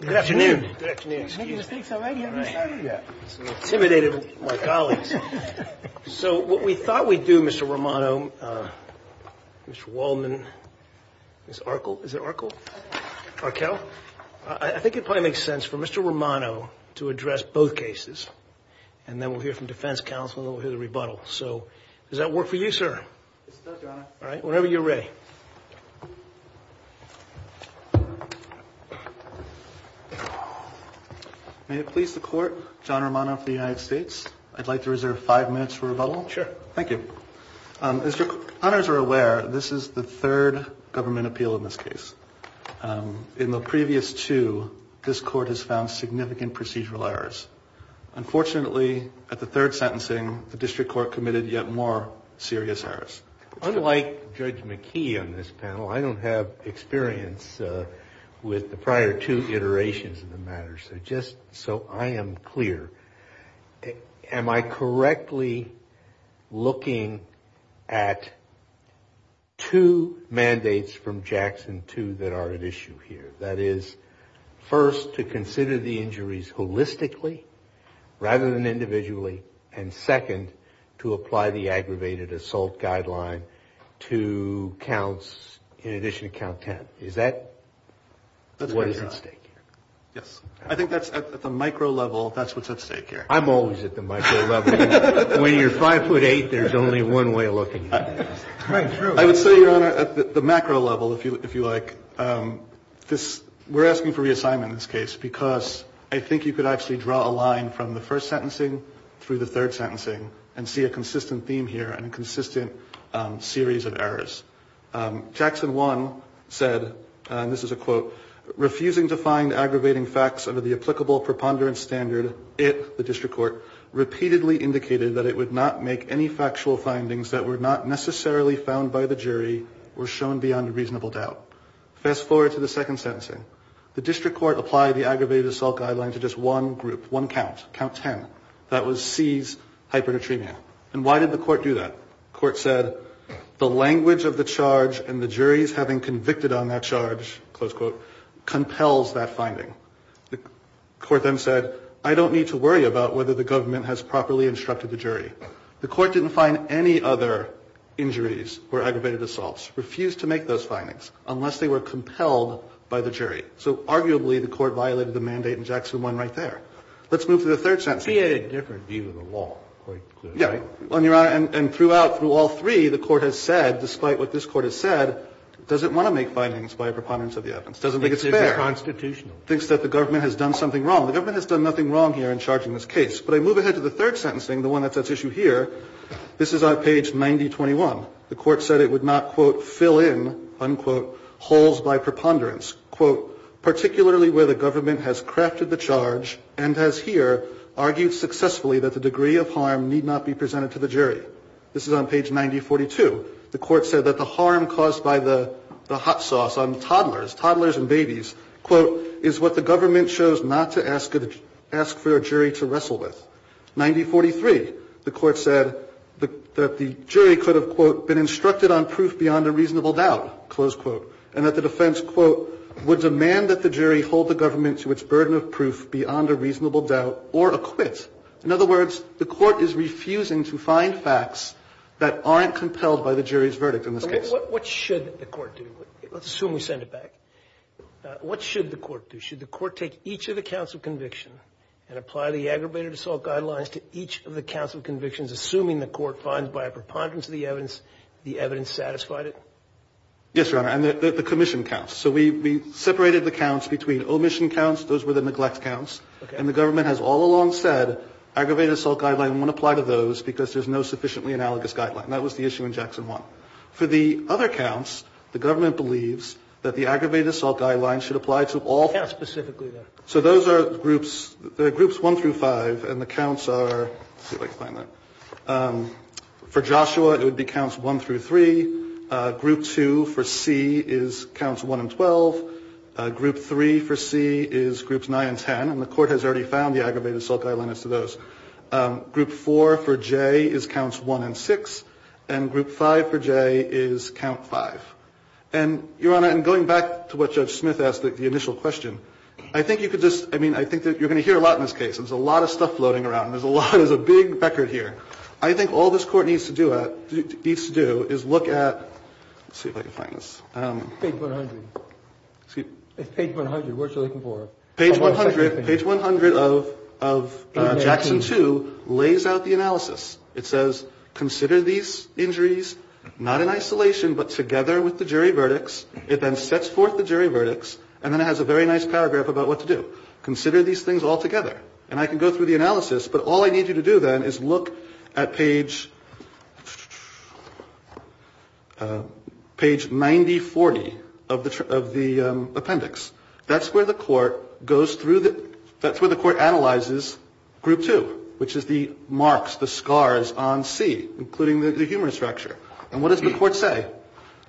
Good afternoon. Good afternoon. Excuse me. You're making mistakes already. I haven't even started yet. Intimidated my colleagues. So, what we thought we'd do, Mr. Romano, Mr. Wallman, Ms. Arkel, is it Arkel? Arkel? I think it probably makes sense for Mr. Romano to address both cases, and then we'll hear from Defense Counsel and then we'll hear the rebuttal. So does that work for you, sir? It does, Your Honor. All right. Whenever you're ready. May it please the Court, John Romano for the United States, I'd like to reserve five minutes for rebuttal. Sure. Thank you. As your honors are aware, this is the third government appeal in this case. In the previous two, this Court has found significant procedural errors. Unfortunately, at the third sentencing, the District Court committed yet more serious errors. Unlike Judge McKee on this panel, I don't have experience with the prior two iterations of the matter. So just so I am clear, am I correctly looking at two mandates from Jackson 2 that are at issue here? That is, first, to consider the injuries holistically rather than individually, and second, to apply the aggravated assault guideline to counts in addition to count 10. Is that what is at stake here? Yes. I think that's at the micro level, that's what's at stake here. I'm always at the micro level. When you're 5'8", there's only one way of looking at it. Right. True. I would say, Your Honor, at the macro level, if you like, we're asking for reassignment in this case because I think you could actually draw a line from the first sentencing through the third sentencing and see a consistent theme here and a consistent series of errors. Jackson 1 said, and this is a quote, refusing to find aggravating facts under the applicable preponderance standard, it, the District Court, repeatedly indicated that it would not make any factual findings that were not necessarily found by the jury or shown beyond reasonable doubt. Fast forward to the second sentencing. The District Court applied the aggravated assault guideline to just one group, one count, count 10. That was C's hypernatremia. And why did the court do that? The court said, the language of the charge and the juries having convicted on that charge, close quote, compels that finding. The court then said, I don't need to worry about whether the government has properly instructed the jury. The court didn't find any other injuries or aggravated assaults, refused to make those findings unless they were compelled by the jury. So arguably, the court violated the mandate in Jackson 1 right there. Let's move to the third sentencing. Kennedy, he had a different view of the law, quite clearly. Yeah. And, Your Honor, and throughout, through all three, the court has said, despite what this Court has said, doesn't want to make findings by a preponderance of the evidence. Doesn't think it's fair. Thinks it's unconstitutional. Thinks that the government has done something wrong. The government has done nothing wrong here in charging this case. But I move ahead to the third sentencing, the one that's at issue here. This is on page 9021. The court said it would not, quote, fill in, unquote, holes by preponderance, quote, particularly where the government has crafted the charge and has here argued successfully that the degree of harm need not be presented to the jury. This is on page 9042. The court said that the harm caused by the hot sauce on toddlers, toddlers and babies, quote, is what the government chose not to ask for a jury to wrestle with. 9043, the court said that the jury could have, quote, been instructed on proof beyond a reasonable doubt, close quote. And that the defense, quote, would demand that the jury hold the government to its burden of proof beyond a reasonable doubt or acquit. In other words, the court is refusing to find facts that aren't compelled by the jury's verdict in this case. What should the court do? Let's assume we send it back. What should the court do? Should the court take each of the counsel conviction and apply the aggravated assault guidelines to each of the counsel convictions, assuming the court finds by a preponderance of the evidence the evidence satisfied it? Yes, Your Honor. And the commission counts. So we separated the counts between omission counts. Those were the neglect counts. And the government has all along said aggravated assault guideline won't apply to those because there's no sufficiently analogous guideline. That was the issue in Jackson 1. For the other counts, the government believes that the aggravated assault guidelines should apply to all. Counts specifically there. So those are groups, they're groups 1 through 5 and the counts are, let's see if I can find that. For Joshua, it would be counts 1 through 3. Group 2 for C is counts 1 and 12. Group 3 for C is groups 9 and 10. And the court has already found the aggravated assault guidelines to those. Group 4 for J is counts 1 and 6. And group 5 for J is count 5. And Your Honor, I'm going back to what Judge Smith asked, the initial question. I think you could just, I mean, I think that you're going to hear a lot in this case. There's a lot of stuff floating around. There's a lot, there's a big becker here. I think all this court needs to do is look at, let's see if I can find this. Page 100. Excuse me. Page 100, what are you looking for? Page 100 of Jackson 2 lays out the analysis. It says, consider these injuries not in isolation but together with the jury verdicts. It then sets forth the jury verdicts and then it has a very nice paragraph about what to do. Consider these things all together. And I can go through the analysis, but all I need you to do then is look at page 9040 of the appendix. That's where the court goes through the, that's where the court analyzes group 2, which is the marks, the scars on C, including the humorous structure. And what does the court say?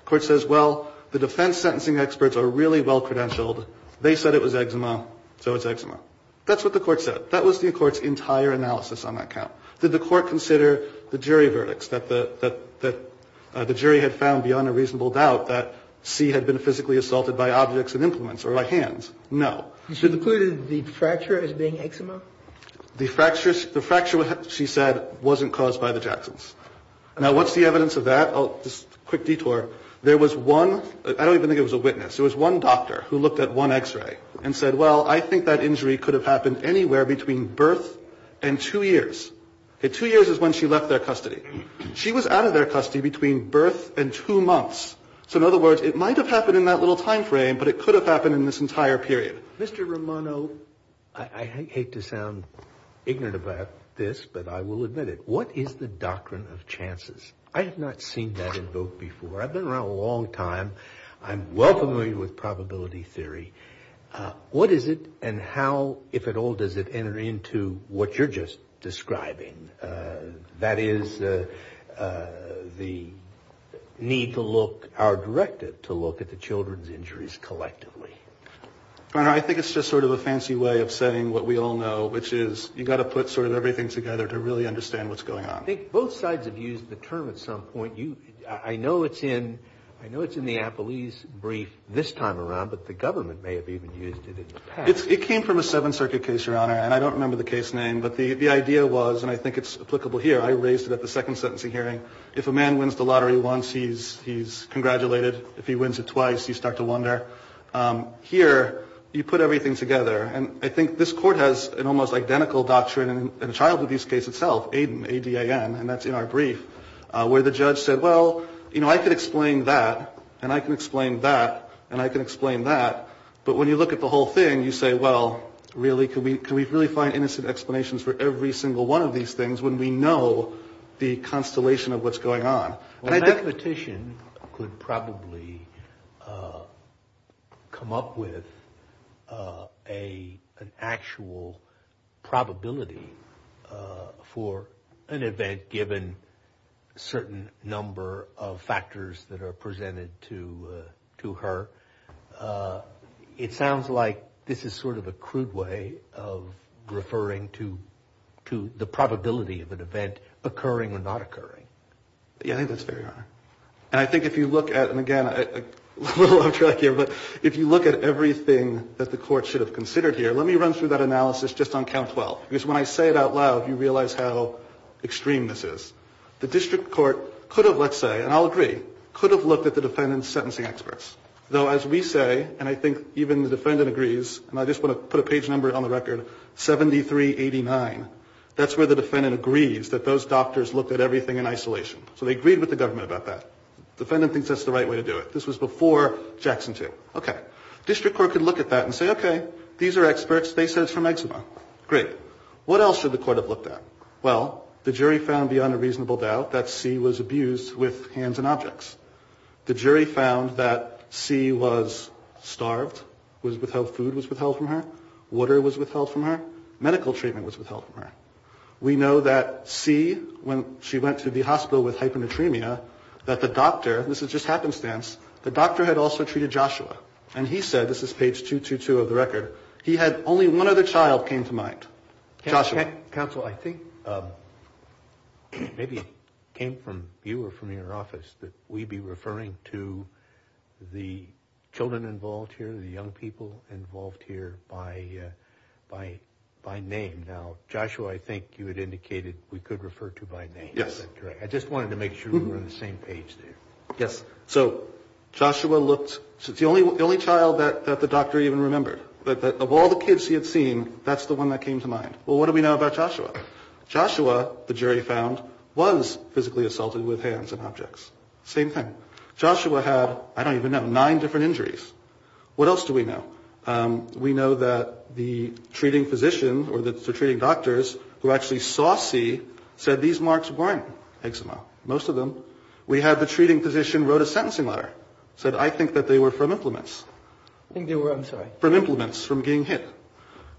Court says, well, the defense sentencing experts are really well credentialed. They said it was eczema, so it's eczema. That's what the court said. That was the court's entire analysis on that count. Did the court consider the jury verdicts, that the jury had found beyond a reasonable doubt that C had been physically assaulted by objects and implements or by hands? No. And she concluded the fracture as being eczema? The fracture, she said, wasn't caused by the Jacksons. Now, what's the evidence of that? I'll just, quick detour. There was one, I don't even think it was a witness. It was one doctor who looked at one x-ray and said, well, I think that injury could have happened anywhere between birth and two years. Two years is when she left their custody. She was out of their custody between birth and two months. So in other words, it might have happened in that little time frame, but it could have happened in this entire period. Mr. Romano, I hate to sound ignorant about this, but I will admit it. What is the doctrine of chances? I have not seen that invoked before. I've been around a long time. I'm well familiar with probability theory. What is it, and how, if at all, does it enter into what you're just describing? That is the need to look, our directive, to look at the children's injuries collectively. I think it's just sort of a fancy way of saying what we all know, which is you gotta put sort of everything together to really understand what's going on. I think both sides have used the term at some point. I know it's in the Appellee's brief this time around, but the government may have even used it in the past. It came from a Seventh Circuit case, Your Honor, and I don't remember the case name. But the idea was, and I think it's applicable here, I raised it at the second sentencing hearing. If a man wins the lottery once, he's congratulated. If he wins it twice, you start to wonder. Here, you put everything together, and I think this court has an almost identical doctrine in the child abuse case itself, ADAN, and that's in our brief. Where the judge said, well, I can explain that, and I can explain that, and I can explain that, but when you look at the whole thing, you say, well, really, can we really find innocent explanations for every single one of these things when we know the constellation of what's going on? And I- If a mathematician could probably come up with an actual probability for an event given certain number of factors that are presented to her, it sounds like this is sort of a crude way of referring to the probability of an event occurring or not occurring. Yeah, I think that's fair, Your Honor. And I think if you look at, and again, a little off track here, but if you look at everything that the court should have considered here, let me run through that analysis just on count 12. Because when I say it out loud, you realize how extreme this is. The district court could have, let's say, and I'll agree, could have looked at the defendant's sentencing experts. Though, as we say, and I think even the defendant agrees, and I just want to put a page number on the record, 7389, that's where the defendant agrees that those doctors looked at everything in isolation. So they agreed with the government about that. Defendant thinks that's the right way to do it. This was before Jackson 2. Okay, district court could look at that and say, okay, these are experts. They said it's from eczema. Great, what else should the court have looked at? Well, the jury found beyond a reasonable doubt that C was abused with hands and objects. The jury found that C was starved, food was withheld from her, water was withheld from her, medical treatment was withheld from her. We know that C, when she went to the hospital with hyponatremia, that the doctor, this is just happenstance, the doctor had also treated Joshua. And he said, this is page 222 of the record, he had only one other child came to mind, Joshua. Counsel, I think maybe it came from you or from your office that we'd be referring to the children involved here, the young people involved here by name. Now, Joshua, I think you had indicated we could refer to by name. Yes. I just wanted to make sure we were on the same page there. Yes, so Joshua looked, it's the only child that the doctor even remembered. But of all the kids he had seen, that's the one that came to mind. Well, what do we know about Joshua? Joshua, the jury found, was physically assaulted with hands and objects. Same thing. Joshua had, I don't even know, nine different injuries. What else do we know? We know that the treating physician, or the treating doctors, who actually saw C, said these marks weren't eczema, most of them. We have the treating physician wrote a sentencing letter, said I think that they were from implements. I think they were, I'm sorry. From implements, from being hit.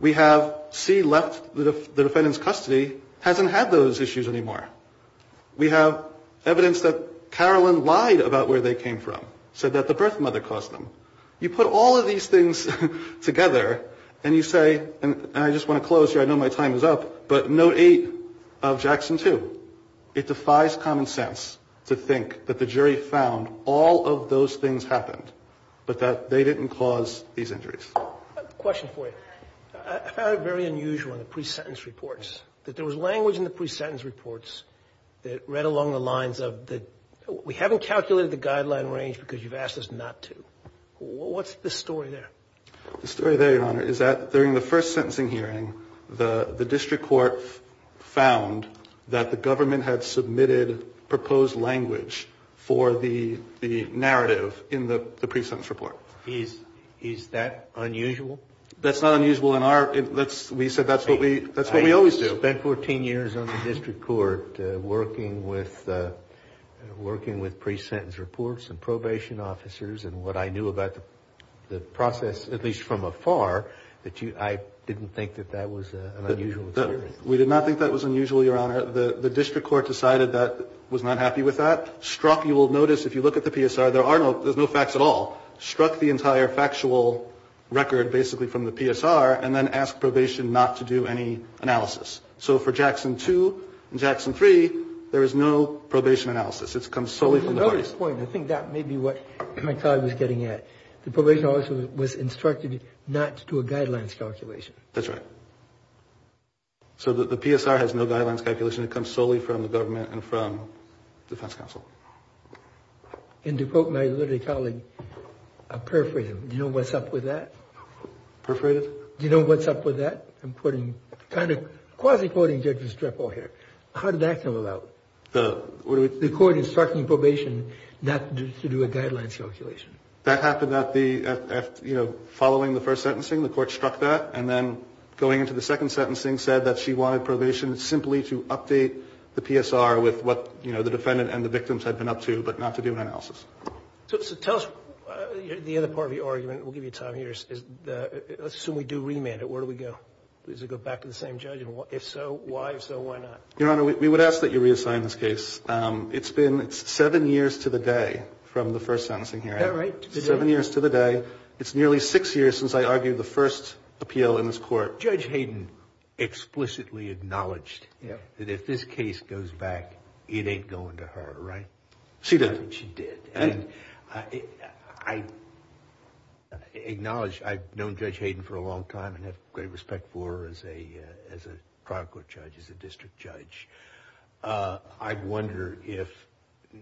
We have C left the defendant's custody, hasn't had those issues anymore. We have evidence that Carolyn lied about where they came from, said that the birth mother caused them. You put all of these things together, and you say, and I just want to close here, I know my time is up, but note eight of Jackson two. It defies common sense to think that the jury found all of those things happened, but that they didn't cause these injuries. Question for you, I found it very unusual in the pre-sentence reports, that there was language in the pre-sentence reports that read along the lines of we haven't calculated the guideline range because you've asked us not to. What's the story there? The story there, your honor, is that during the first sentencing hearing, the district court found that the government had submitted proposed language for the narrative in the pre-sentence report. Is that unusual? That's not unusual in our, we said that's what we always do. I spent 14 years on the district court working with pre-sentence reports and probation officers, and what I knew about the process, at least from afar, that I didn't think that that was an unusual experience. We did not think that was unusual, your honor. The district court decided that was not happy with that. Struck, you will notice if you look at the PSR, there's no facts at all. Struck the entire factual record basically from the PSR, and then ask probation not to do any analysis. So for Jackson 2 and Jackson 3, there is no probation analysis. It comes solely from the parties. To your earlier point, I think that may be what my colleague was getting at. The probation officer was instructed not to do a guidelines calculation. That's right. So the PSR has no guidelines calculation. It comes solely from the government and from defense counsel. And to quote my literary colleague, a perforated, do you know what's up with that? Perforated? Do you know what's up with that? I'm quoting, kind of, quasi-quoting Judge Estrepo here. How did that come about? The court is striking probation not to do a guidelines calculation. That happened at the, following the first sentencing, the court struck that. And then going into the second sentencing, said that she wanted probation simply to update the PSR with what the defendant and the victims had been up to, but not to do an analysis. So tell us the other part of your argument, we'll give you time here. Let's assume we do remand it, where do we go? Does it go back to the same judge, and if so, why, if so, why not? Your Honor, we would ask that you reassign this case. It's been seven years to the day from the first sentencing hearing. Is that right? Seven years to the day. It's nearly six years since I argued the first appeal in this court. Judge Hayden explicitly acknowledged that if this case goes back, it ain't going to her, right? She did. She did. And I acknowledge, I've known Judge Hayden for a long time and have great respect for her as a trial court judge, as a district judge. I wonder if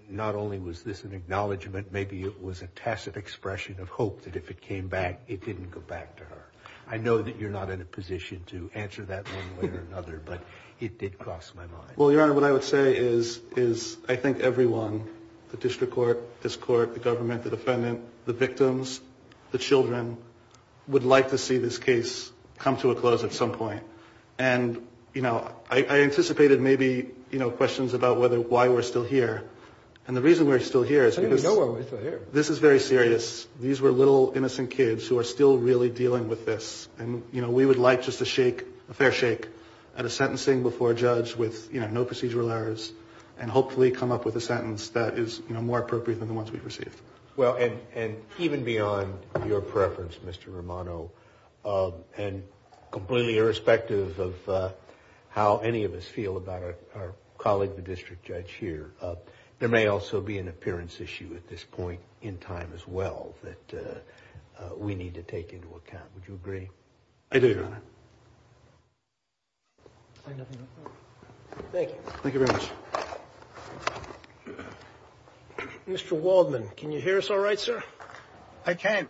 not only was this an acknowledgment, maybe it was a tacit expression of hope that if it came back, it didn't go back to her. I know that you're not in a position to answer that one way or another, but it did cross my mind. Well, Your Honor, what I would say is I think everyone, the district court, this court, the government, the defendant, the victims, the children, would like to see this case come to a close at some point. And I anticipated maybe questions about why we're still here. And the reason we're still here is because- I didn't know why we're still here. This is very serious. These were little innocent kids who are still really dealing with this. And we would like just a shake, a fair shake, at a sentencing before a judge with no procedural errors, and hopefully come up with a sentence that is more appropriate than the ones we've received. Well, and even beyond your preference, Mr. Romano, and completely irrespective of how any of us feel about our colleague, the district judge here, there may also be an appearance issue at this point in time as well that we need to take into account. Would you agree? I do, Your Honor. I have nothing else to add. Thank you. Thank you very much. Mr. Waldman, can you hear us all right, sir? I can.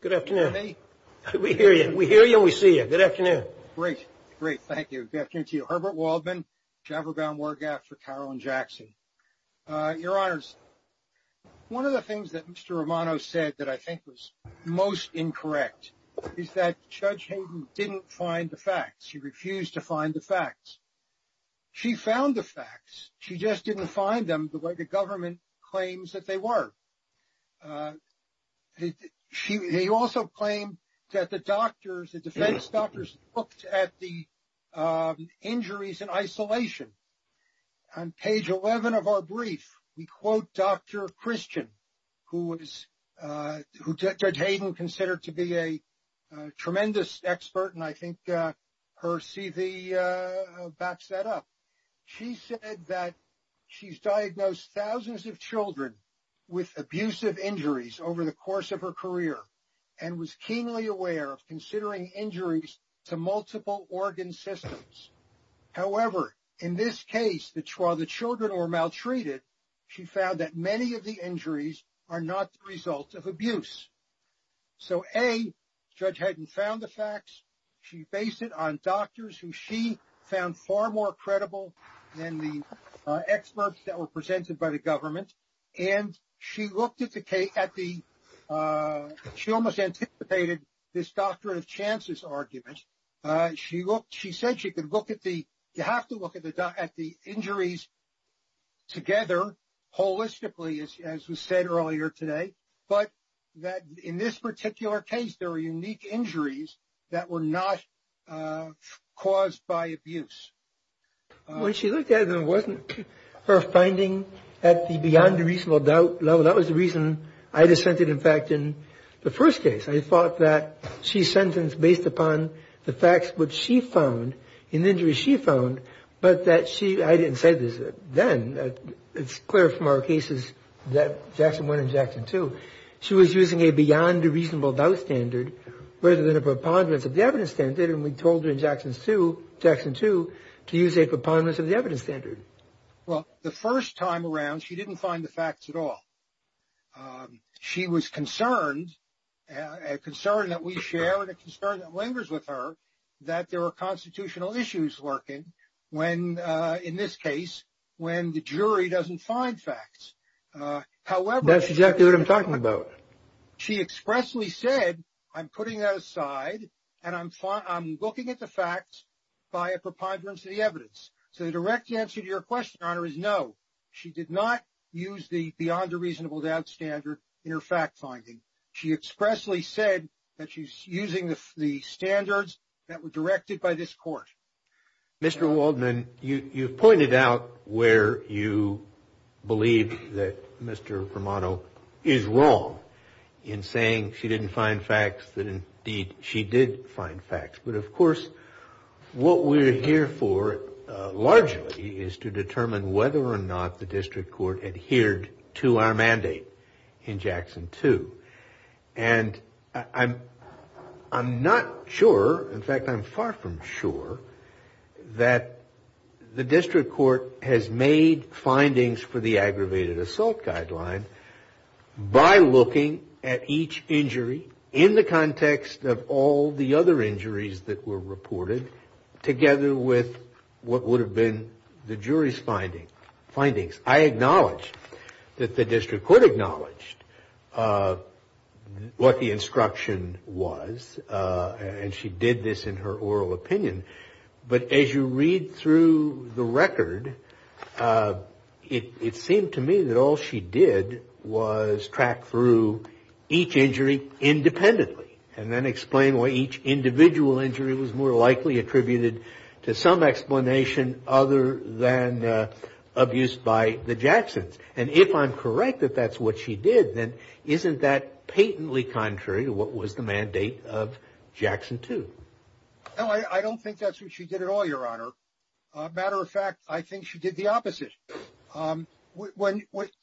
Good afternoon. Can you hear me? We hear you. We hear you and we see you. Good afternoon. Great. Great, thank you. Good afternoon to you. Herbert Waldman, Chevron-bound War Gap for Carroll and Jackson. Your Honors, one of the things that Mr. Romano said that I think was most incorrect is that Judge Hayden didn't find the facts. She refused to find the facts. She found the facts. She just didn't find them the way the government claims that they were. She also claimed that the doctors, the defense doctors, looked at the injuries in isolation. On page 11 of our brief, we quote Dr. Christian, who Judge Hayden considered to be a tremendous expert, and I think her CV backs that up. She said that she's diagnosed thousands of children with abusive injuries over the course of her career, and was keenly aware of considering injuries to multiple organ systems. However, in this case, while the children were maltreated, she found that many of the injuries are not the result of abuse. So A, Judge Hayden found the facts. She based it on doctors who she found far more credible than the experts that were presented by the government. And she looked at the, she almost anticipated this doctor of chances argument. She said she could look at the, you have to look at the injuries together, holistically, as we said earlier today. But that in this particular case, there were unique injuries that were not caused by abuse. When she looked at them, wasn't her finding at the beyond reasonable doubt level, that was the reason I dissented, in fact, in the first case. I thought that she sentenced based upon the facts which she found, and injuries she found, but that she, I didn't say this then, it's clear from our cases that Jackson 1 and Jackson 2. She was using a beyond reasonable doubt standard, rather than a preponderance of the evidence standard, and we told her in Jackson 2 to use a preponderance of the evidence standard. Well, the first time around, she didn't find the facts at all. She was concerned, a concern that we share, and a concern that lingers with her, that there were constitutional issues lurking when, in this case, when the jury doesn't find facts. However- That's exactly what I'm talking about. She expressly said, I'm putting that aside, and I'm looking at the facts by a preponderance of the evidence. So the direct answer to your question, Your Honor, is no. She did not use the beyond a reasonable doubt standard in her fact finding. She expressly said that she's using the standards that were directed by this court. Mr. Waldman, you've pointed out where you believe that Mr. Romano is wrong in saying she didn't find facts, that indeed, she did find facts. But of course, what we're here for, largely, is to determine whether or not there was a mandate in Jackson 2, and I'm not sure, in fact, I'm far from sure, that the district court has made findings for the aggravated assault guideline by looking at each injury in the context of all the other injuries that were reported, together with what would have been the jury's findings. I acknowledge that the district court acknowledged what the instruction was, and she did this in her oral opinion. But as you read through the record, it seemed to me that all she did was track through each injury independently, and then explain why each individual injury was more likely attributed to some by the Jacksons. And if I'm correct that that's what she did, then isn't that patently contrary to what was the mandate of Jackson 2? No, I don't think that's what she did at all, Your Honor. Matter of fact, I think she did the opposite.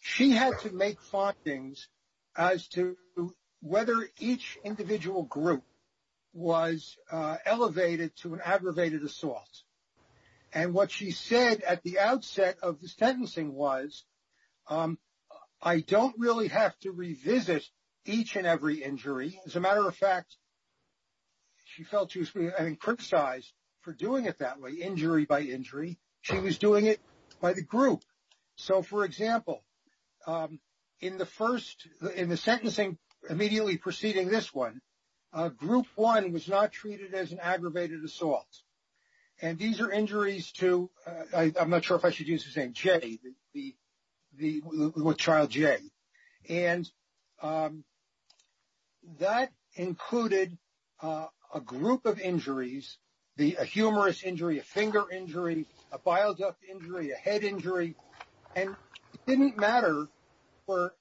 She had to make findings as to whether each individual group was elevated to an aggravated assault. And what she said at the outset of the sentencing was, I don't really have to revisit each and every injury. As a matter of fact, she felt she was being encryptized for doing it that way, injury by injury. She was doing it by the group. So for example, in the sentencing immediately preceding this one, group one was not treated as an aggravated assault. And these are injuries to, I'm not sure if I should use his name, Jay, with child Jay. And that included a group of injuries, a humerus injury, a finger injury, a bile duct injury, a head injury. And it didn't matter for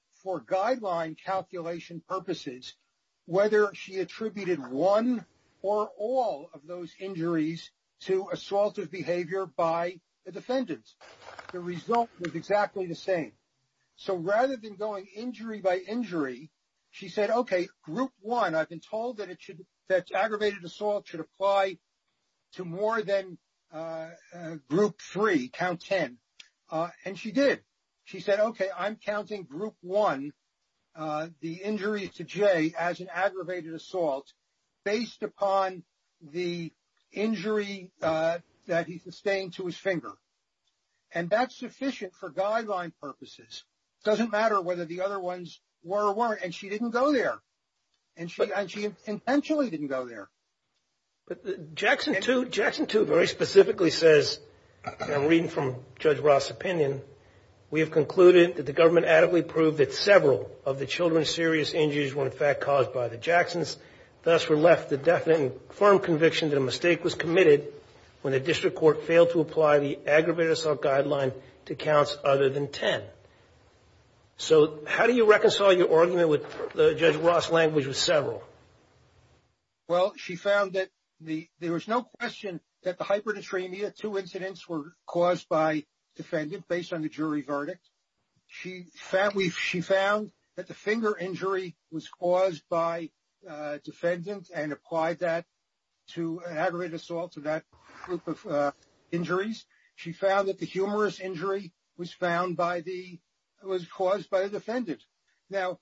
guideline calculation purposes whether she attributed one or all of those injuries to assaultive behavior by the defendants. The result was exactly the same. So rather than going injury by injury, she said, okay, group one, I've been told that aggravated assault should apply to more than group three, count ten, and she did. She said, okay, I'm counting group one, the injury to Jay as an aggravated assault based upon the injury that he sustained to his finger. And that's sufficient for guideline purposes. Doesn't matter whether the other ones were or weren't, and she didn't go there. And she intentionally didn't go there. But Jackson 2 very specifically says, and I'm reading from Judge Ross' opinion. We have concluded that the government adequately proved that several of the children's serious injuries were in fact caused by the Jacksons. Thus were left the definite and firm conviction that a mistake was committed when the district court failed to apply the aggravated assault guideline to counts other than ten. So how do you reconcile your argument with Judge Ross' language with several? Well, she found that there was no question that the hyperdysphemia, two incidents were caused by defendant based on the jury verdict. She found that the finger injury was caused by defendant and applied that to aggravated assault to that group of injuries. She found that the humerus injury was caused by the defendant. Now,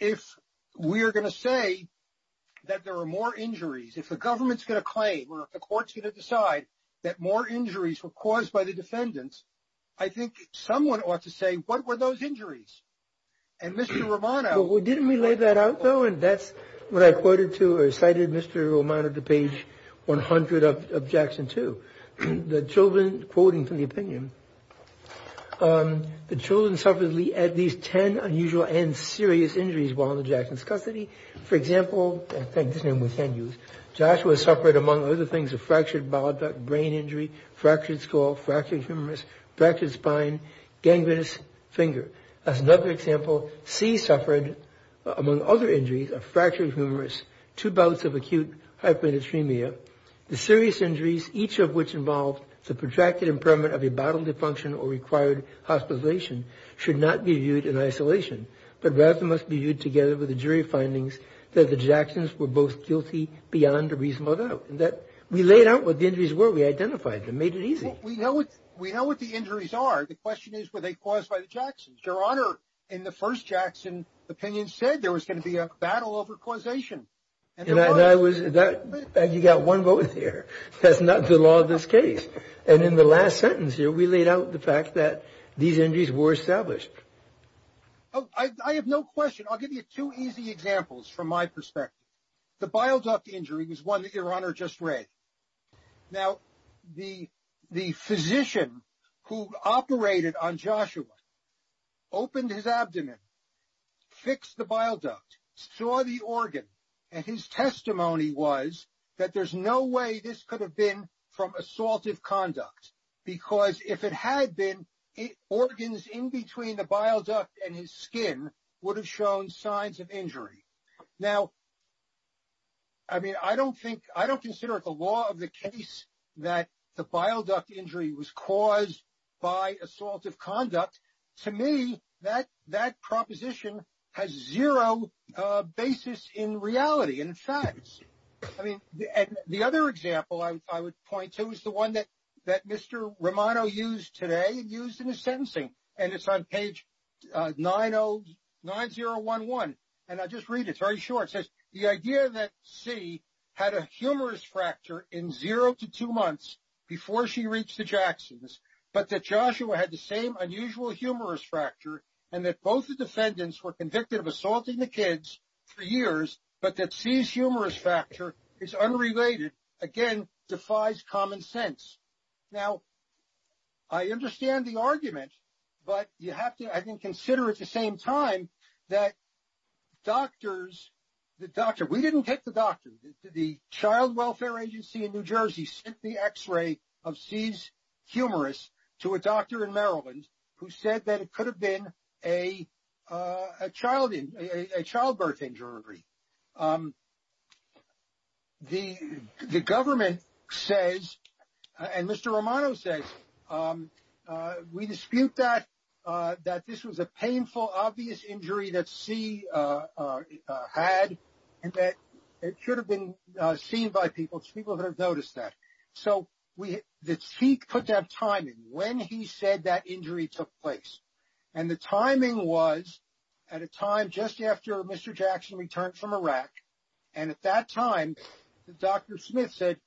if we're going to say that there are more injuries, if the government's going to claim or if the court's going to decide that more injuries were caused by the defendants, I think someone ought to say, what were those injuries? And Mr. Romano- Well, didn't we lay that out though? And that's what I quoted to or cited Mr. Romano to page 100 of Jackson 2. The children, quoting from the opinion, The children suffered at least ten unusual and serious injuries while in Jackson's custody. For example, Joshua suffered, among other things, a fractured bowel duct, brain injury, fractured skull, fractured humerus, fractured spine, gangrenous finger. As another example, C suffered, among other injuries, a fractured humerus, two bouts of acute hyperdysphemia. The serious injuries, each of which involved the protracted impairment of the bottom defunction or required hospitalization, should not be viewed in isolation, but rather must be viewed together with the jury findings that the Jacksons were both guilty beyond a reasonable doubt. And that we laid out what the injuries were, we identified them, made it easy. We know what the injuries are. The question is, were they caused by the Jacksons? Your Honor, in the first Jackson opinion said there was going to be a battle over causation. And I was, you got one vote here. That's not the law of this case. And in the last sentence here, we laid out the fact that these injuries were established. Oh, I have no question. I'll give you two easy examples from my perspective. The bowel duct injury was one that Your Honor just read. Now, the physician who operated on Joshua opened his abdomen, fixed the bowel duct, saw the organ, and his testimony was that there's no way this could have been from assaultive conduct. Because if it had been, organs in between the bowel duct and his skin would have shown signs of injury. Now, I mean, I don't think, I don't consider it the law of the case that the bowel duct injury was caused by assaultive conduct. To me, that proposition has zero basis in reality and facts. I mean, the other example I would point to is the one that Mr. Romano used today and used in his sentencing. And it's on page 9011. And I'll just read it, it's very short. It says, the idea that C had a humerus fracture in zero to two months before she reached the Jacksons, but that Joshua had the same unusual humerus fracture and that both the defendants were convicted of assaulting the kids for years, but that C's humerus fracture is unrelated, again, defies common sense. Now, I understand the argument, but you have to, I think, consider at the same time that doctors, the doctor, we didn't get the doctor. The Child Welfare Agency in New Jersey sent the X-ray of C's humerus to a doctor in Maryland who said that it could have been a childbirth injury. The government says, and Mr. Romano says, we dispute that this was a painful, obvious injury that C had and that it should have been seen by people. It's people who have noticed that. So, the C put that time in when he said that injury took place. And the timing was at a time just after Mr. Jackson returned from Iraq. And at that time, Dr. Smith said,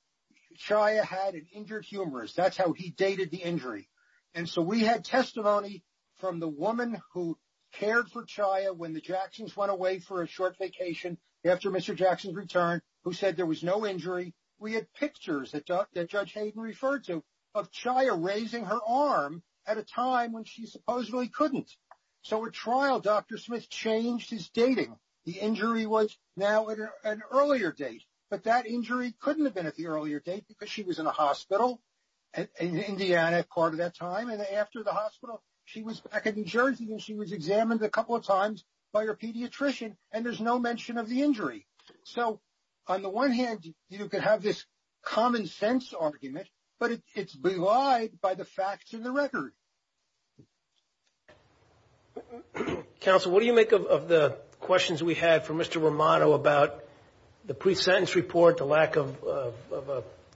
Chaya had an injured humerus, that's how he dated the injury. And so we had testimony from the woman who cared for Chaya when the Jacksons went away for a short vacation after Mr. Jackson's return, who said there was no injury. We had pictures that Judge Hayden referred to of Chaya raising her arm at a time when she supposedly couldn't. So, at trial, Dr. Smith changed his dating. The injury was now at an earlier date. But that injury couldn't have been at the earlier date because she was in a hospital in Indiana part of that time. And after the hospital, she was back in New Jersey and she was examined a couple of times by her pediatrician and there's no mention of the injury. So, on the one hand, you could have this common sense argument, but it's belied by the facts and the record. Counsel, what do you make of the questions we had from Mr. Romano about the pre-sentence report, the lack of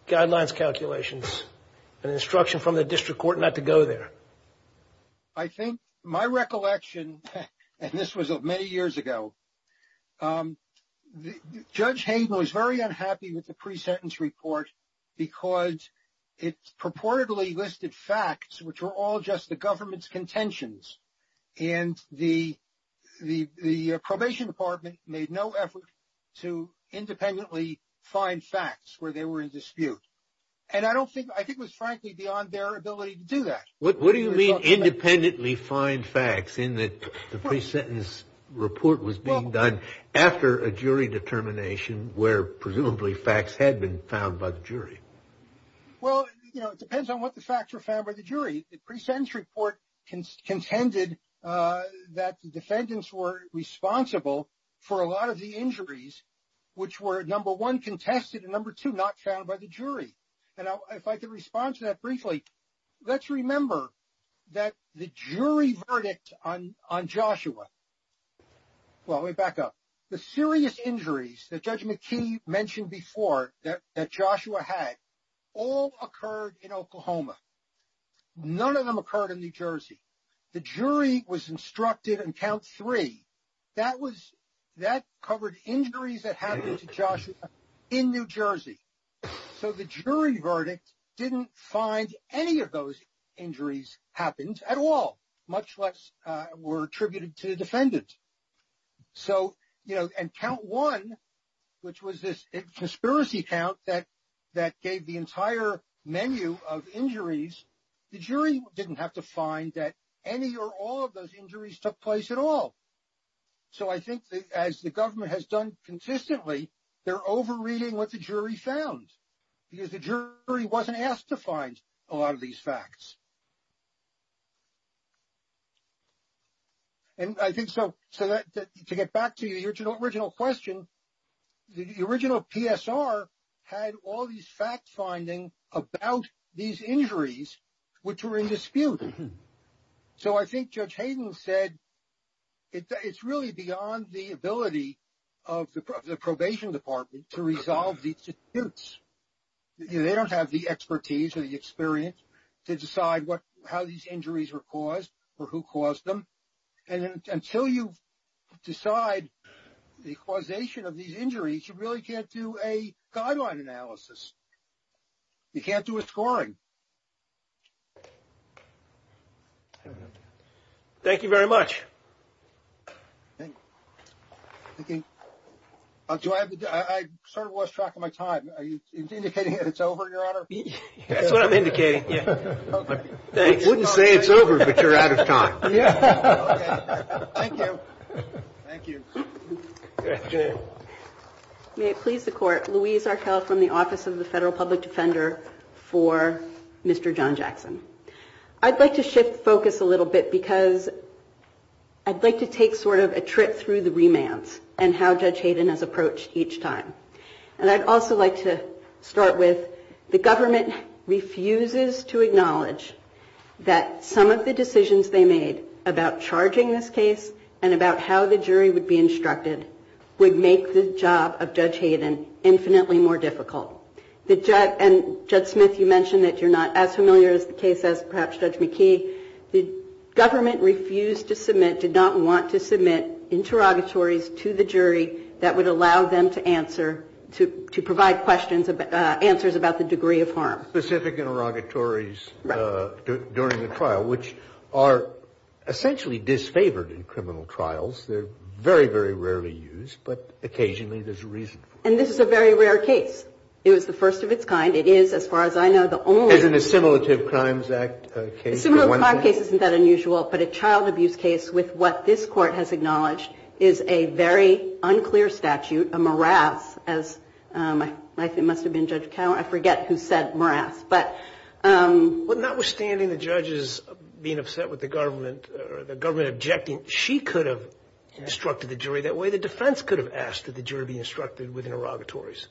guidelines calculations, an instruction from the district court not to go there? I think my recollection, and this was many years ago, um, Judge Hayden was very unhappy with the pre-sentence report because it purportedly listed facts which were all just the government's contentions. And the probation department made no effort to independently find facts where they were in dispute. And I don't think, I think it was frankly beyond their ability to do that. What do you mean independently find facts in that the pre-sentence report was being done after a jury determination where presumably facts had been found by the jury? Well, you know, it depends on what the facts were found by the jury. The pre-sentence report contended that the defendants were responsible for a lot of the injuries which were number one, contested, and number two, not found by the jury. And if I could respond to that briefly, let's remember that the jury verdict on Joshua. Well, let me back up. The serious injuries that Judge McKee mentioned before that Joshua had all occurred in Oklahoma. None of them occurred in New Jersey. The jury was instructed on count three, that was, that covered injuries that happened to Joshua in New Jersey. So the jury verdict didn't find any of those injuries happened at all, much less were attributed to the defendant. So, you know, and count one, which was this conspiracy count that gave the entire menu of injuries, the jury didn't have to find that any or all of those injuries took place at all. So I think that as the government has done consistently, they're over reading what the jury found because the jury wasn't asked to find a lot of these facts. And I think so, to get back to your original question, the original PSR had all these facts finding about these injuries, which were in dispute. So I think Judge Hayden said it's really beyond the ability of the probation department to resolve these disputes. They don't have the expertise or the experience to decide what, how these injuries were caused or who caused them. And until you decide the causation of these injuries, you really can't do a guideline analysis. You can't do a scoring. I don't know. Thank you very much. Thank you. Thank you. Do I have to, I sort of lost track of my time. Are you indicating that it's over, Your Honor? That's what I'm indicating, yeah. They wouldn't say it's over, but you're out of time. Thank you. Thank you. May it please the Court, Louise Arkell from the Office of the Federal Public Defender for Mr. John Jackson. I'd like to shift focus a little bit because I'd like to take sort of a trip through the remands and how Judge Hayden has approached each time. And I'd also like to start with the government refuses to acknowledge that some of the decisions they made about charging this case and about how the jury would be instructed would make the job of Judge Hayden infinitely more difficult. And Judge Smith, you mentioned that you're not as familiar as the case as perhaps Judge McKee. The government refused to submit, did not want to submit interrogatories to the jury that would allow them to answer, to provide questions, answers about the degree of harm. Specific interrogatories during the trial, which are essentially disfavored in criminal trials. They're very, very rarely used, but occasionally there's a reason. And this is a very rare case. It was the first of its kind. It is, as far as I know, the only... It's an assimilative crimes act case. Assimilative crimes case isn't that unusual, but a child abuse case with what this Court has acknowledged is a very unclear statute, a morass, as it must have been Judge Cowan. I forget who said morass, but... Notwithstanding the judges being upset with the government or the government objecting, she could have instructed the jury that way. The defense could have asked that the jury be instructed with interrogatories.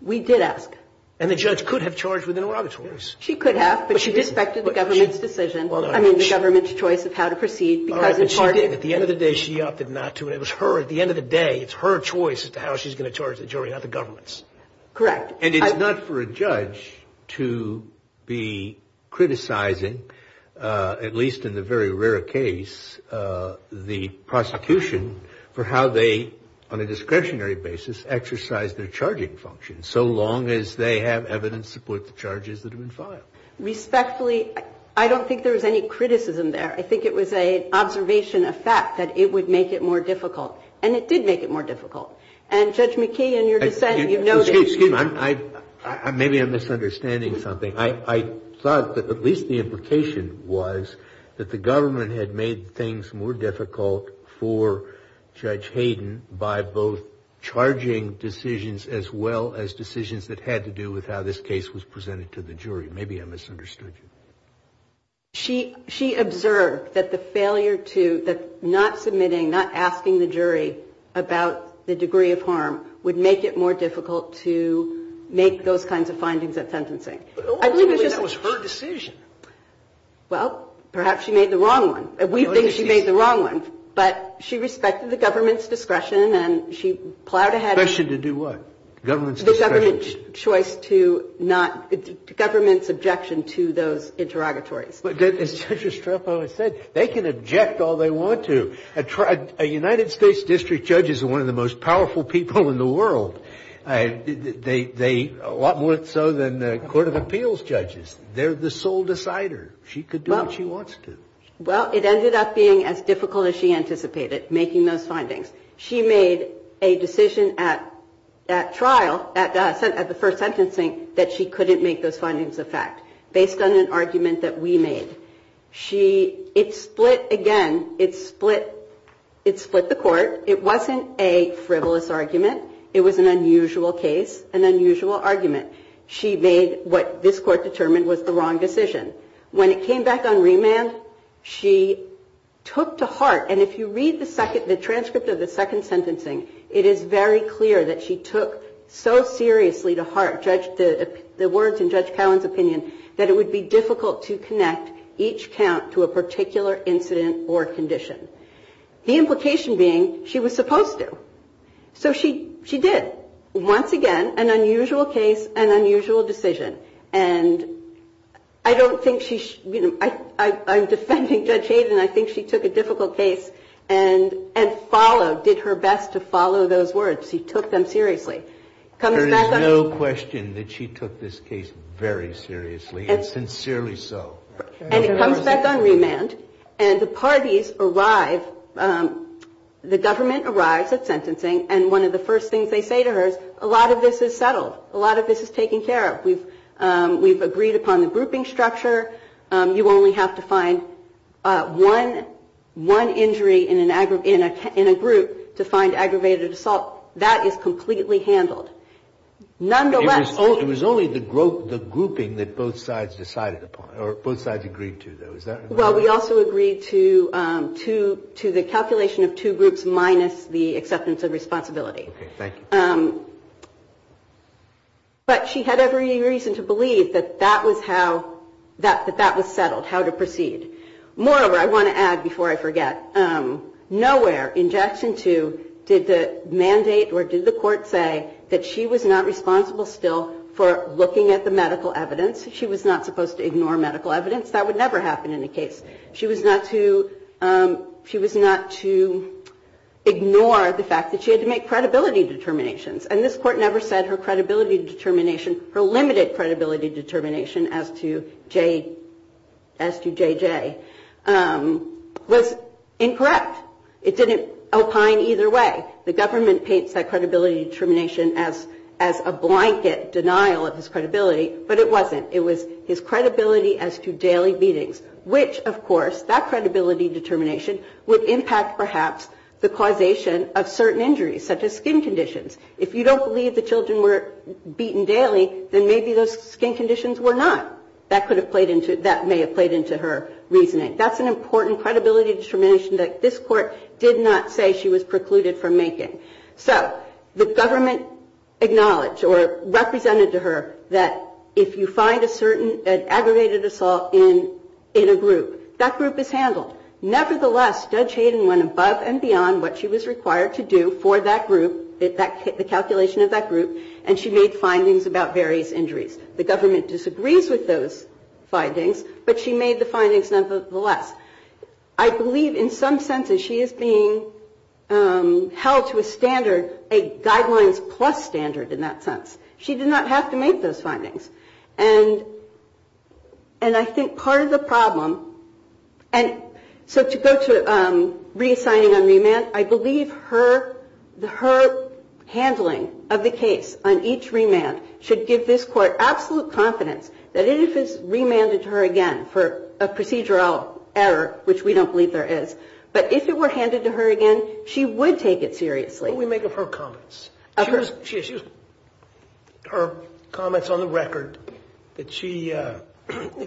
We did ask. And the judge could have charged with interrogatories. She could have, but she disrespected the government's decision, I mean, the government's choice of how to proceed because it's part of... At the end of the day, she opted not to. And it was her, at the end of the day, it's her choice as to how she's going to charge the jury, not the government's. Correct. And it's not for a judge to be criticizing, at least in the very rare case, the prosecution for how they, on a discretionary basis, exercise their charging function, so long as they have evidence to support the charges that have been filed. Respectfully, I don't think there was any criticism there. I think it was an observation, a fact, that it would make it more difficult. And it did make it more difficult. And Judge McKee, in your dissent, you noted... Excuse me. Maybe I'm misunderstanding something. I thought that at least the implication was that the government had made things more difficult for Judge Hayden by both charging decisions as well as decisions that had to do with how this case was presented to the jury. Maybe I misunderstood you. She observed that the failure to... That not submitting, not asking the jury about the degree of harm would make it more difficult to make those kinds of findings at sentencing. But ultimately, that was her decision. Well, perhaps she made the wrong one. We think she made the wrong one. But she respected the government's discretion, and she plowed ahead... Discretion to do what? Government's discretion. The government's choice to not... Government's objection to those interrogatories. But as Judge Estrepo has said, they can object all they want to. A United States district judge is one of the most powerful people in the world. They... A lot more so than the Court of Appeals judges. They're the sole decider. She could do what she wants to. Well, it ended up being as difficult as she anticipated, making those findings. She made a decision at trial, at the first sentencing, that she couldn't make those findings a fact, based on an argument that we made. She... It split again. It split... It split the court. It wasn't a frivolous argument. It was an unusual case, an unusual argument. She made what this court determined was the wrong decision. When it came back on remand, she took to heart... And if you read the second... The transcript of the second sentencing, it is very clear that she took so seriously to heart the words in Judge Cowan's opinion, that it would be difficult to connect each count to a particular incident or condition. The implication being, she was supposed to. So she did. Once again, an unusual case, an unusual decision. And I don't think she... I'm defending Judge Hayden. I think she took a difficult case and followed, did her best to follow those words. She took them seriously. There is no question that she took this case very seriously, and sincerely so. And it comes back on remand, and the parties arrive, the government arrives at sentencing, and one of the first things they say to her is, a lot of this is settled. A lot of this is taken care of. We've agreed upon the grouping structure. You only have to find one injury in a group to find aggravated assault. That is completely handled. Nonetheless... It was only the grouping that both sides decided upon, or both sides agreed to though, is that... Well, we also agreed to the calculation of two groups minus the acceptance of responsibility. Okay, thank you. But she had every reason to believe that that was how... That that was settled, how to proceed. Moreover, I want to add before I forget, nowhere in Jackson 2 did the mandate or did the court say that she was not responsible still for looking at the medical evidence. She was not supposed to ignore medical evidence. That would never happen in a case. She was not to... She was not to ignore the fact that she had to make credibility determinations, and this court never said her credibility determination, her limited credibility determination as to JJ was incorrect. It didn't opine either way. The government paints that credibility determination as a blanket denial of his credibility, but it wasn't. It was his credibility as to daily meetings, which of course, that credibility determination would impact perhaps the causation of certain injuries such as skin conditions. If you don't believe the children were beaten daily, then maybe those skin conditions were not. That could have played into... That may have played into her reasoning. That's an important credibility determination that this court did not say she was precluded from making. So the government acknowledged or represented to her that if you find a certain... In a group, that group is handled. Nevertheless, Judge Hayden went above and beyond what she was required to do for that group, the calculation of that group, and she made findings about various injuries. The government disagrees with those findings, but she made the findings nevertheless. I believe in some sense that she is being held to a standard, a guidelines plus standard in that sense. She did not have to make those findings. And I think part of the problem... And so to go to reassigning on remand, I believe her handling of the case on each remand should give this court absolute confidence that if it's remanded to her again for a procedural error, which we don't believe there is, but if it were handed to her again, she would take it seriously. What do we make of her comments? Her comments on the record that she, in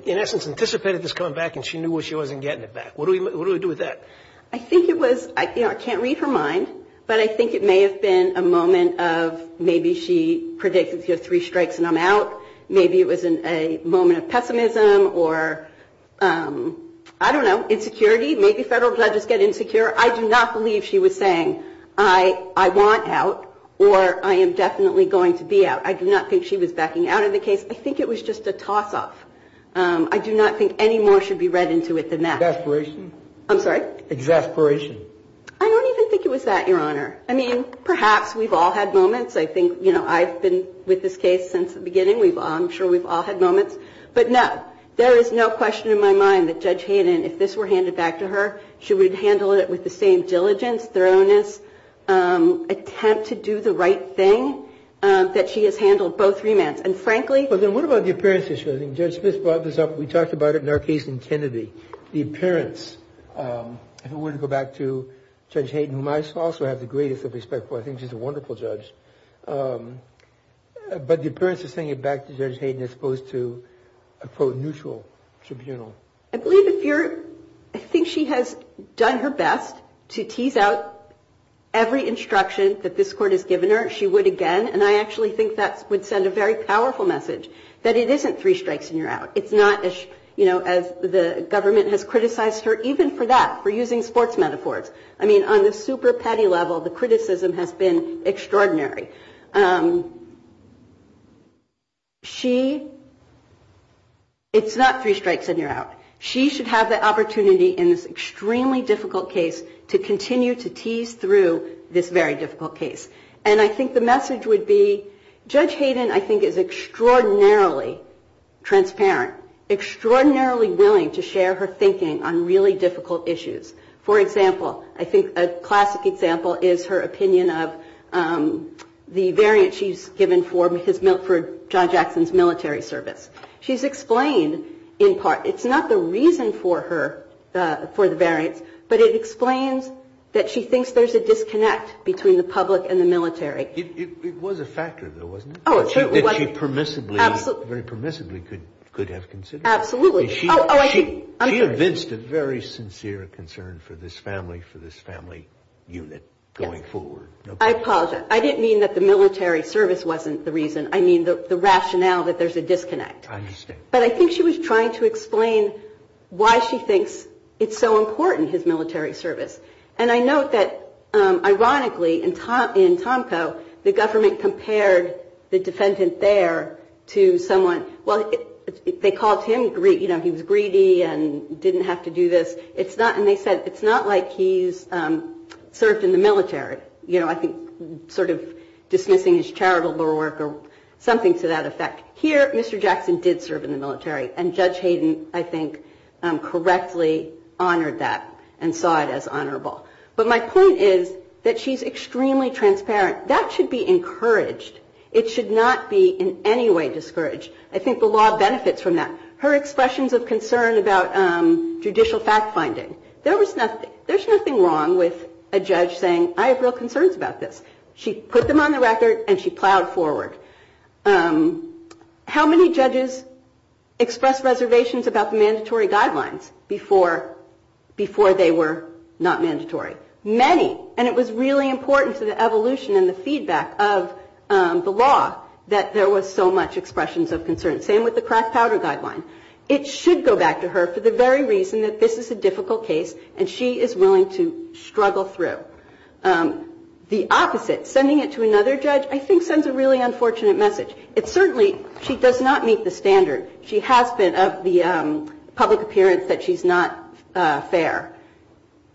essence, anticipated this coming back and she knew where she was in getting it back. What do we do with that? I think it was, I can't read her mind, but I think it may have been a moment of maybe she predicted three strikes and I'm out. Maybe it was a moment of pessimism or, I don't know, insecurity. Maybe federal judges get insecure. I do not believe she was saying, I want out or I am definitely going to be out. I do not think she was backing out of the case. I think it was just a toss-off. I do not think any more should be read into it than that. Exasperation? I'm sorry? Exasperation. I don't even think it was that, Your Honor. I mean, perhaps we've all had moments. I think I've been with this case since the beginning. I'm sure we've all had moments. But no, there is no question in my mind that Judge Hayden, if this were handed back to her, she would handle it with the same diligence, thoroughness, attempt to do the right thing that she has handled both remands. And frankly- But then what about the appearance issue? I think Judge Smith brought this up. We talked about it in our case in Kennedy. The appearance. If it were to go back to Judge Hayden, who I also have the greatest of respect for. I think she's a wonderful judge. But the appearance is saying it back to Judge Hayden as opposed to a, quote, neutral tribunal. I believe if you're- I think she has done her best to tease out every instruction that this court has given her. She would again. And I actually think that would send a very powerful message, that it isn't three strikes and you're out. It's not as the government has criticized her even for that, for using sports metaphors. I mean, on the super petty level, the criticism has been extraordinary. She- It's not three strikes and you're out. She should have the opportunity in this extremely difficult case to continue to tease through this very difficult case. And I think the message would be, Judge Hayden, I think, is extraordinarily transparent, extraordinarily willing to share her thinking on really difficult issues. For example, I think a classic example is her opinion of the variance she's given for his- for John Jackson's military service. She's explained, in part, it's not the reason for her, for the variance, but it explains that she thinks there's a disconnect between the public and the military. It was a factor, though, wasn't it? Oh, it certainly was. That she permissibly- Absolutely. Very permissibly could have considered. Absolutely. She evinced a very sincere concern for this family, for this family unit going forward. I apologize. I didn't mean that the military service wasn't the reason. I mean the rationale that there's a disconnect. I understand. But I think she was trying to explain why she thinks it's so important, his military service. And I note that, ironically, in Tomco, the government compared the defendant there to someone- well, they called him, you know, he was greedy and didn't have to do this. It's not- and they said, it's not like he's served in the military. You know, I think sort of dismissing his charitable work or something to that effect. Here, Mr. Jackson did serve in the military. And Judge Hayden, I think, correctly honored that and saw it as honorable. But my point is that she's extremely transparent. That should be encouraged. It should not be in any way discouraged. I think the law benefits from that. Her expressions of concern about judicial fact-finding. There was nothing- there's nothing wrong with a judge saying, I have real concerns about this. She put them on the record and she plowed forward. How many judges expressed reservations about the mandatory guidelines before they were not mandatory? Many. And it was really important to the evolution and the feedback of the law that there was so much expressions of concern. Same with the crack powder guideline. It should go back to her for the very reason that this is a difficult case and she is willing to struggle through. The opposite, sending it to another judge, I think sends a really unfortunate message. It certainly- she does not meet the standard. She has been of the public appearance that she's not fair.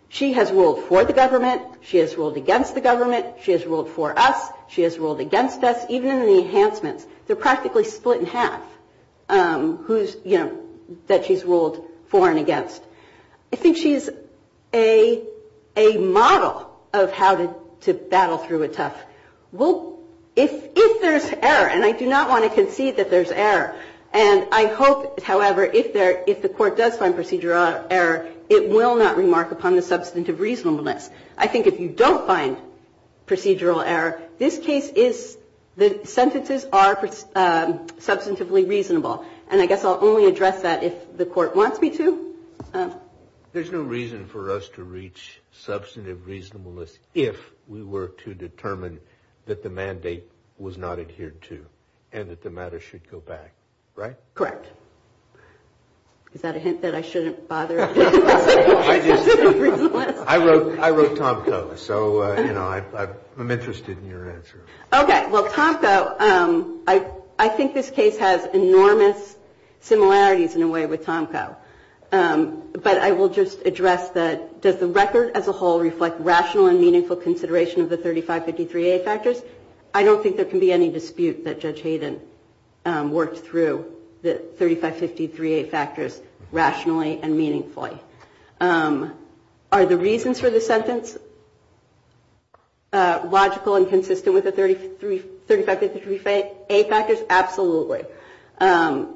She has ruled for the government. She has ruled against the government. She has ruled for us. She has ruled against us. Even in the enhancements, they're practically split in half, who's, you know, that she's ruled for and against. I think she's a model of how to battle through a tough- well, if there's error, and I do not want to concede that there's error, and I hope, however, if the court does find procedural error, it will not remark upon the substantive reasonableness. I think if you don't find procedural error, this case is- the sentences are substantively reasonable. And I guess I'll only address that if the court wants me to. There's no reason for us to reach substantive reasonableness if we were to determine that the mandate was not adhered to and that the matter should go back, right? Correct. Is that a hint that I shouldn't bother? I wrote Tomko, so, you know, I'm interested in your answer. Okay. Well, Tomko, I think this case has enormous similarities, in a way, with Tomko. But I will just address that does the record as a whole reflect rational and meaningful consideration of the 3553A factors? I don't think there can be any dispute that Judge Hayden worked through the 3553A factors rationally and meaningfully. Are the reasons for the sentence logical and consistent with the 3553A factors? Absolutely.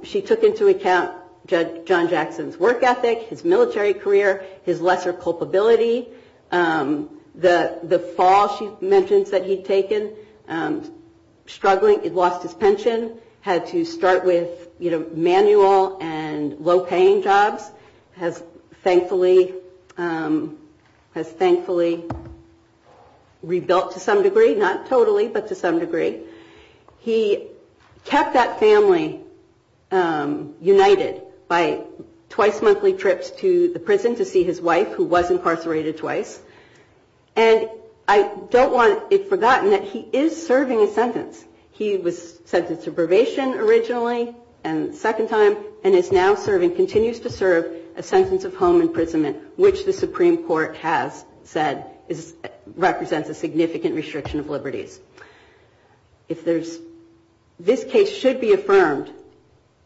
She took into account Judge John Jackson's work ethic, his military career, his lesser culpability, the fall she mentions that he'd taken, struggling, he'd lost his pension, had to start with manual and low-paying jobs, has thankfully rebuilt to some degree, not totally, but to some degree. He kept that family united by twice-monthly trips to the prison to see his wife, who was incarcerated twice. And I don't want it forgotten that he is serving a sentence. He was sentenced to probation originally, and second time, and is now serving, continues to serve, a sentence of home imprisonment, which the Supreme Court has said represents a significant restriction of liberties. This case should be affirmed.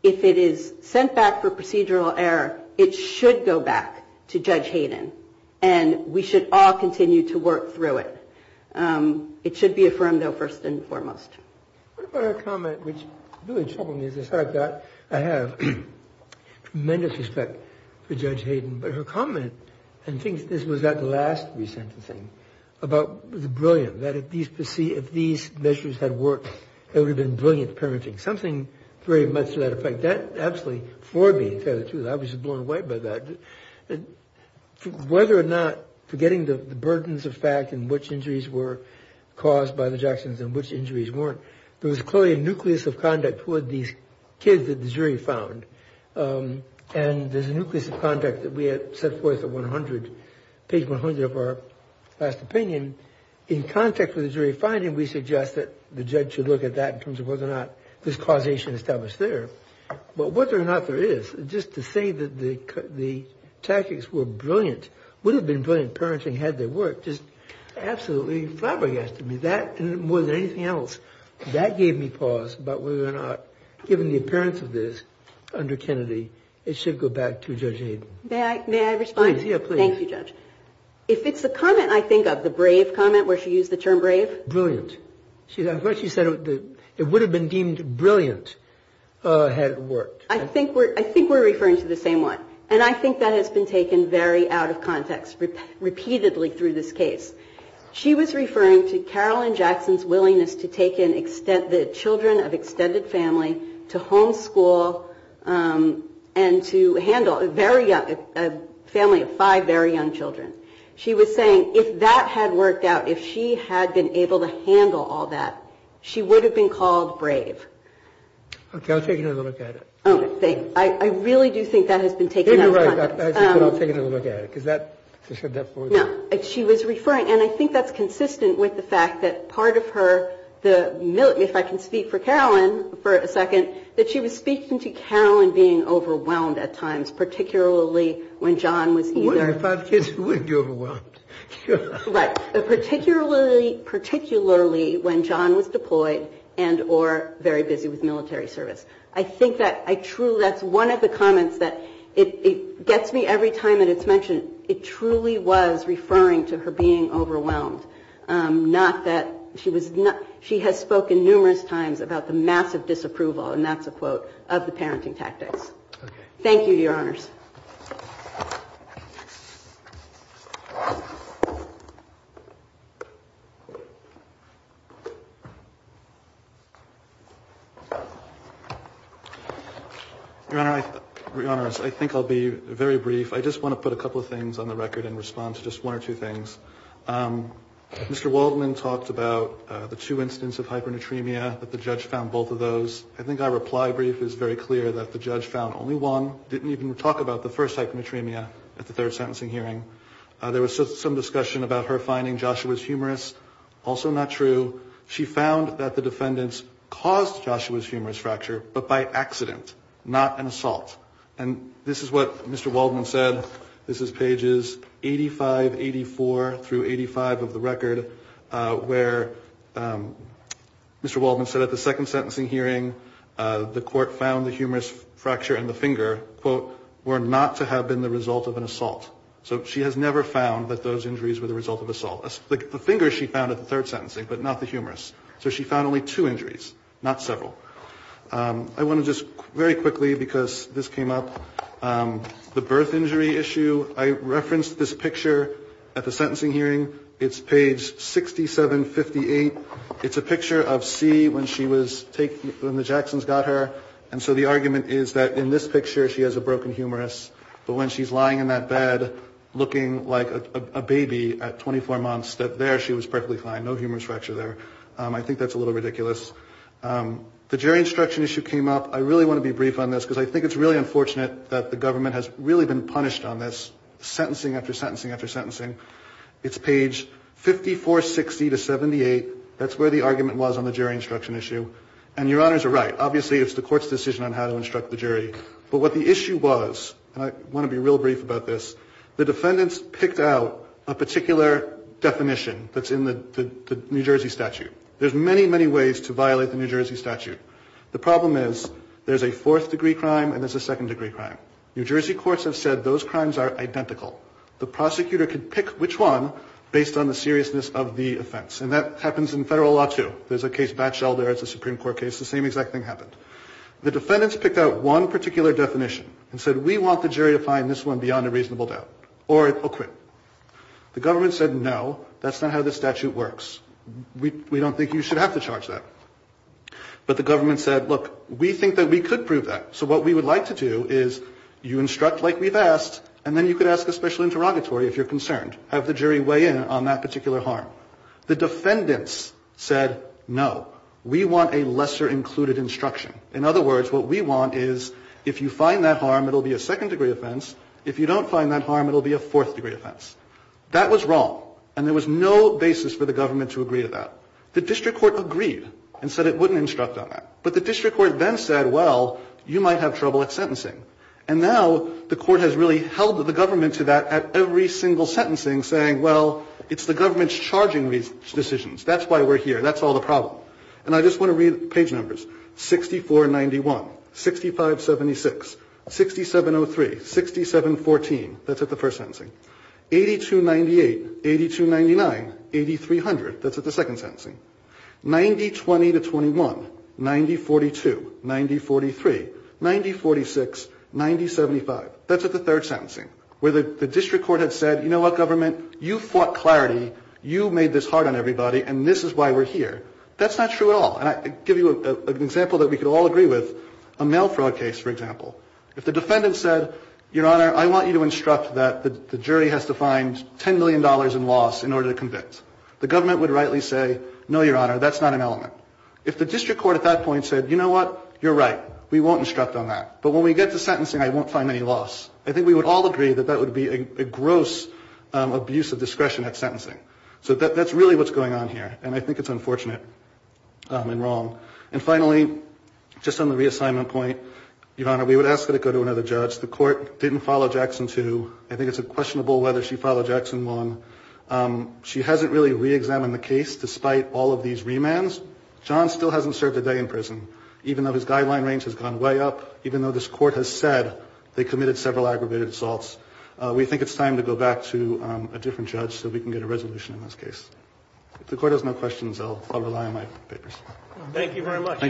If it is sent back for procedural error, it should go back to Judge Hayden, and we should all continue to work through it. It should be affirmed, though, first and foremost. What about her comment, which really troubled me, is the fact that I have tremendous respect for Judge Hayden, but her comment, and I think this was at the last resentencing, about the brilliance, that if these measures had worked, there would have been brilliant parenting, something very much to that effect. That absolutely floored me, to tell you the truth. I was blown away by that. Whether or not forgetting the burdens of fact and which injuries were caused by the Jacksons and which injuries weren't, there was clearly a nucleus of conduct toward these kids that the jury found, and there's a nucleus of conduct that we had set forth at 100, page 100 of our last opinion. In context with the jury finding, we suggest that the judge should look at that in terms of whether or not there's causation established there, but whether or not there is, just to say that the tactics were brilliant, would have been brilliant parenting had they worked, just absolutely flabbergasted me. That, more than anything else, that gave me pause about whether or not, given the appearance of this under Kennedy, it should go back to Judge Hayden. May I respond? Please, yeah, please. Thank you, Judge. If it's the comment I think of, the brave comment, where she used the term brave? Brilliant. I thought she said it would have been deemed brilliant had it worked. I think we're referring to the same one, and I think that has been taken very out of context repeatedly through this case. She was referring to Carolyn Jackson's willingness to take in the children of extended family to homeschool and to handle a family of five very young children. She was saying if that had worked out, if she had been able to handle all that, she would have been called brave. Okay, I'll take another look at it. Oh, thank you. I really do think that has been taken out of context. You're right, but I'll take another look at it, because I said that before. No, she was referring, and I think that's consistent with the fact that part of her, if I can speak for Carolyn for a second, that she was speaking to Carolyn being overwhelmed at times, particularly when John was either- When I have five kids, who wouldn't be overwhelmed? Right, particularly when John was deployed and or very busy with military service. I think that's one of the comments that it gets me every time that it's mentioned. It truly was referring to her being overwhelmed. She has spoken numerous times about the massive disapproval, and that's a quote, of the parenting tactics. Thank you, Your Honors. Your Honor, I think I'll be very brief. I just want to put a couple of things on the record and respond to just one or two things. Mr. Waldman talked about the two incidents of hypernatremia, that the judge found both of those. I think our reply brief is very clear that the judge found only one, didn't even talk about the first hypernatremia at the third sentencing hearing. There was some discussion about her finding Joshua's humorous, also not true. She found that the defendants caused Joshua's humorous fracture, but by accident, not an assault. And this is what Mr. Waldman said. This is pages 85, 84 through 85 of the record, where Mr. Waldman said at the second sentencing hearing, the court found the humorous fracture in the finger, quote, were not to have been the result of an assault. So she has never found that those injuries were the result of assault. The finger she found at the third sentencing, but not the humorous. So she found only two injuries, not several. I want to just very quickly, because this came up, the birth injury issue. I referenced this picture at the sentencing hearing. It's page 6758. It's a picture of C when she was taken, when the Jacksons got her. And so the argument is that in this picture, she has a broken humorous. But when she's lying in that bed, looking like a baby at 24 months, that there she was perfectly fine, no humorous fracture there. I think that's a little ridiculous. The jury instruction issue came up. I really want to be brief on this, because I think it's really unfortunate that the government has really been punished on this, sentencing after sentencing after sentencing. It's page 5460 to 78. That's where the argument was on the jury instruction issue. And your honors are right. Obviously, it's the court's decision on how to instruct the jury. But what the issue was, and I want to be real brief about this, the defendants picked out a particular definition that's in the New Jersey statute. There's many, many ways to violate the New Jersey statute. The problem is there's a fourth-degree crime and there's a second-degree crime. New Jersey courts have said those crimes are identical. The prosecutor could pick which one based on the seriousness of the offense. And that happens in federal law, too. There's a case Batchel there. It's a Supreme Court case. The same exact thing happened. The defendants picked out one particular definition and said, we want the jury to find this one beyond a reasonable doubt or acquit. The government said, no, that's not how the statute works. We don't think you should have to charge that. But the government said, look, we think that we could prove that. So what we would like to do is you instruct like we've asked, and then you could ask a special interrogatory if you're concerned, have the jury weigh in on that particular harm. The defendants said, no, we want a lesser-included instruction. In other words, what we want is if you find that harm, it'll be a second-degree offense. If you don't find that harm, it'll be a fourth-degree offense. That was wrong. And there was no basis for the government to agree to that. The district court agreed and said it wouldn't instruct on that. But the district court then said, well, you might have trouble at sentencing. And now the court has really held the government to that at every single sentencing, saying, well, it's the government's charging decisions. That's why we're here. That's all the problem. And I just want to read page numbers. 6491, 6576, 6703, 6714. That's at the first sentencing. 8298, 8299, 8300. That's at the second sentencing. 9020 to 21, 9042, 9043, 9046, 9075. That's at the third sentencing, where the district court had said, you know what, government? You fought clarity. You made this hard on everybody. And this is why we're here. That's not true at all. And I give you an example that we could all agree with, a mail fraud case, for example. If the defendant said, Your Honor, I want you to instruct that the jury has to find $10 million in loss in order to convince, the government would rightly say, no, Your Honor, that's not an element. If the district court at that point said, you know what? You're right. We won't instruct on that. But when we get to sentencing, I won't find any loss. I think we would all agree that that would be a gross abuse of discretion at sentencing. So that's really what's going on here. And I think it's unfortunate and wrong. And finally, just on the reassignment point, Your Honor, we would ask that it go to another judge. The court didn't follow Jackson too. I think it's questionable whether she followed Jackson long. She hasn't really reexamined the case despite all of these remands. John still hasn't served a day in prison, even though his guideline range has gone way up, even though this court has said they committed several aggravated assaults. We think it's time to go back to a different judge so we can get a resolution in this case. If the court has no questions, I'll rely on my papers. Thank you very much.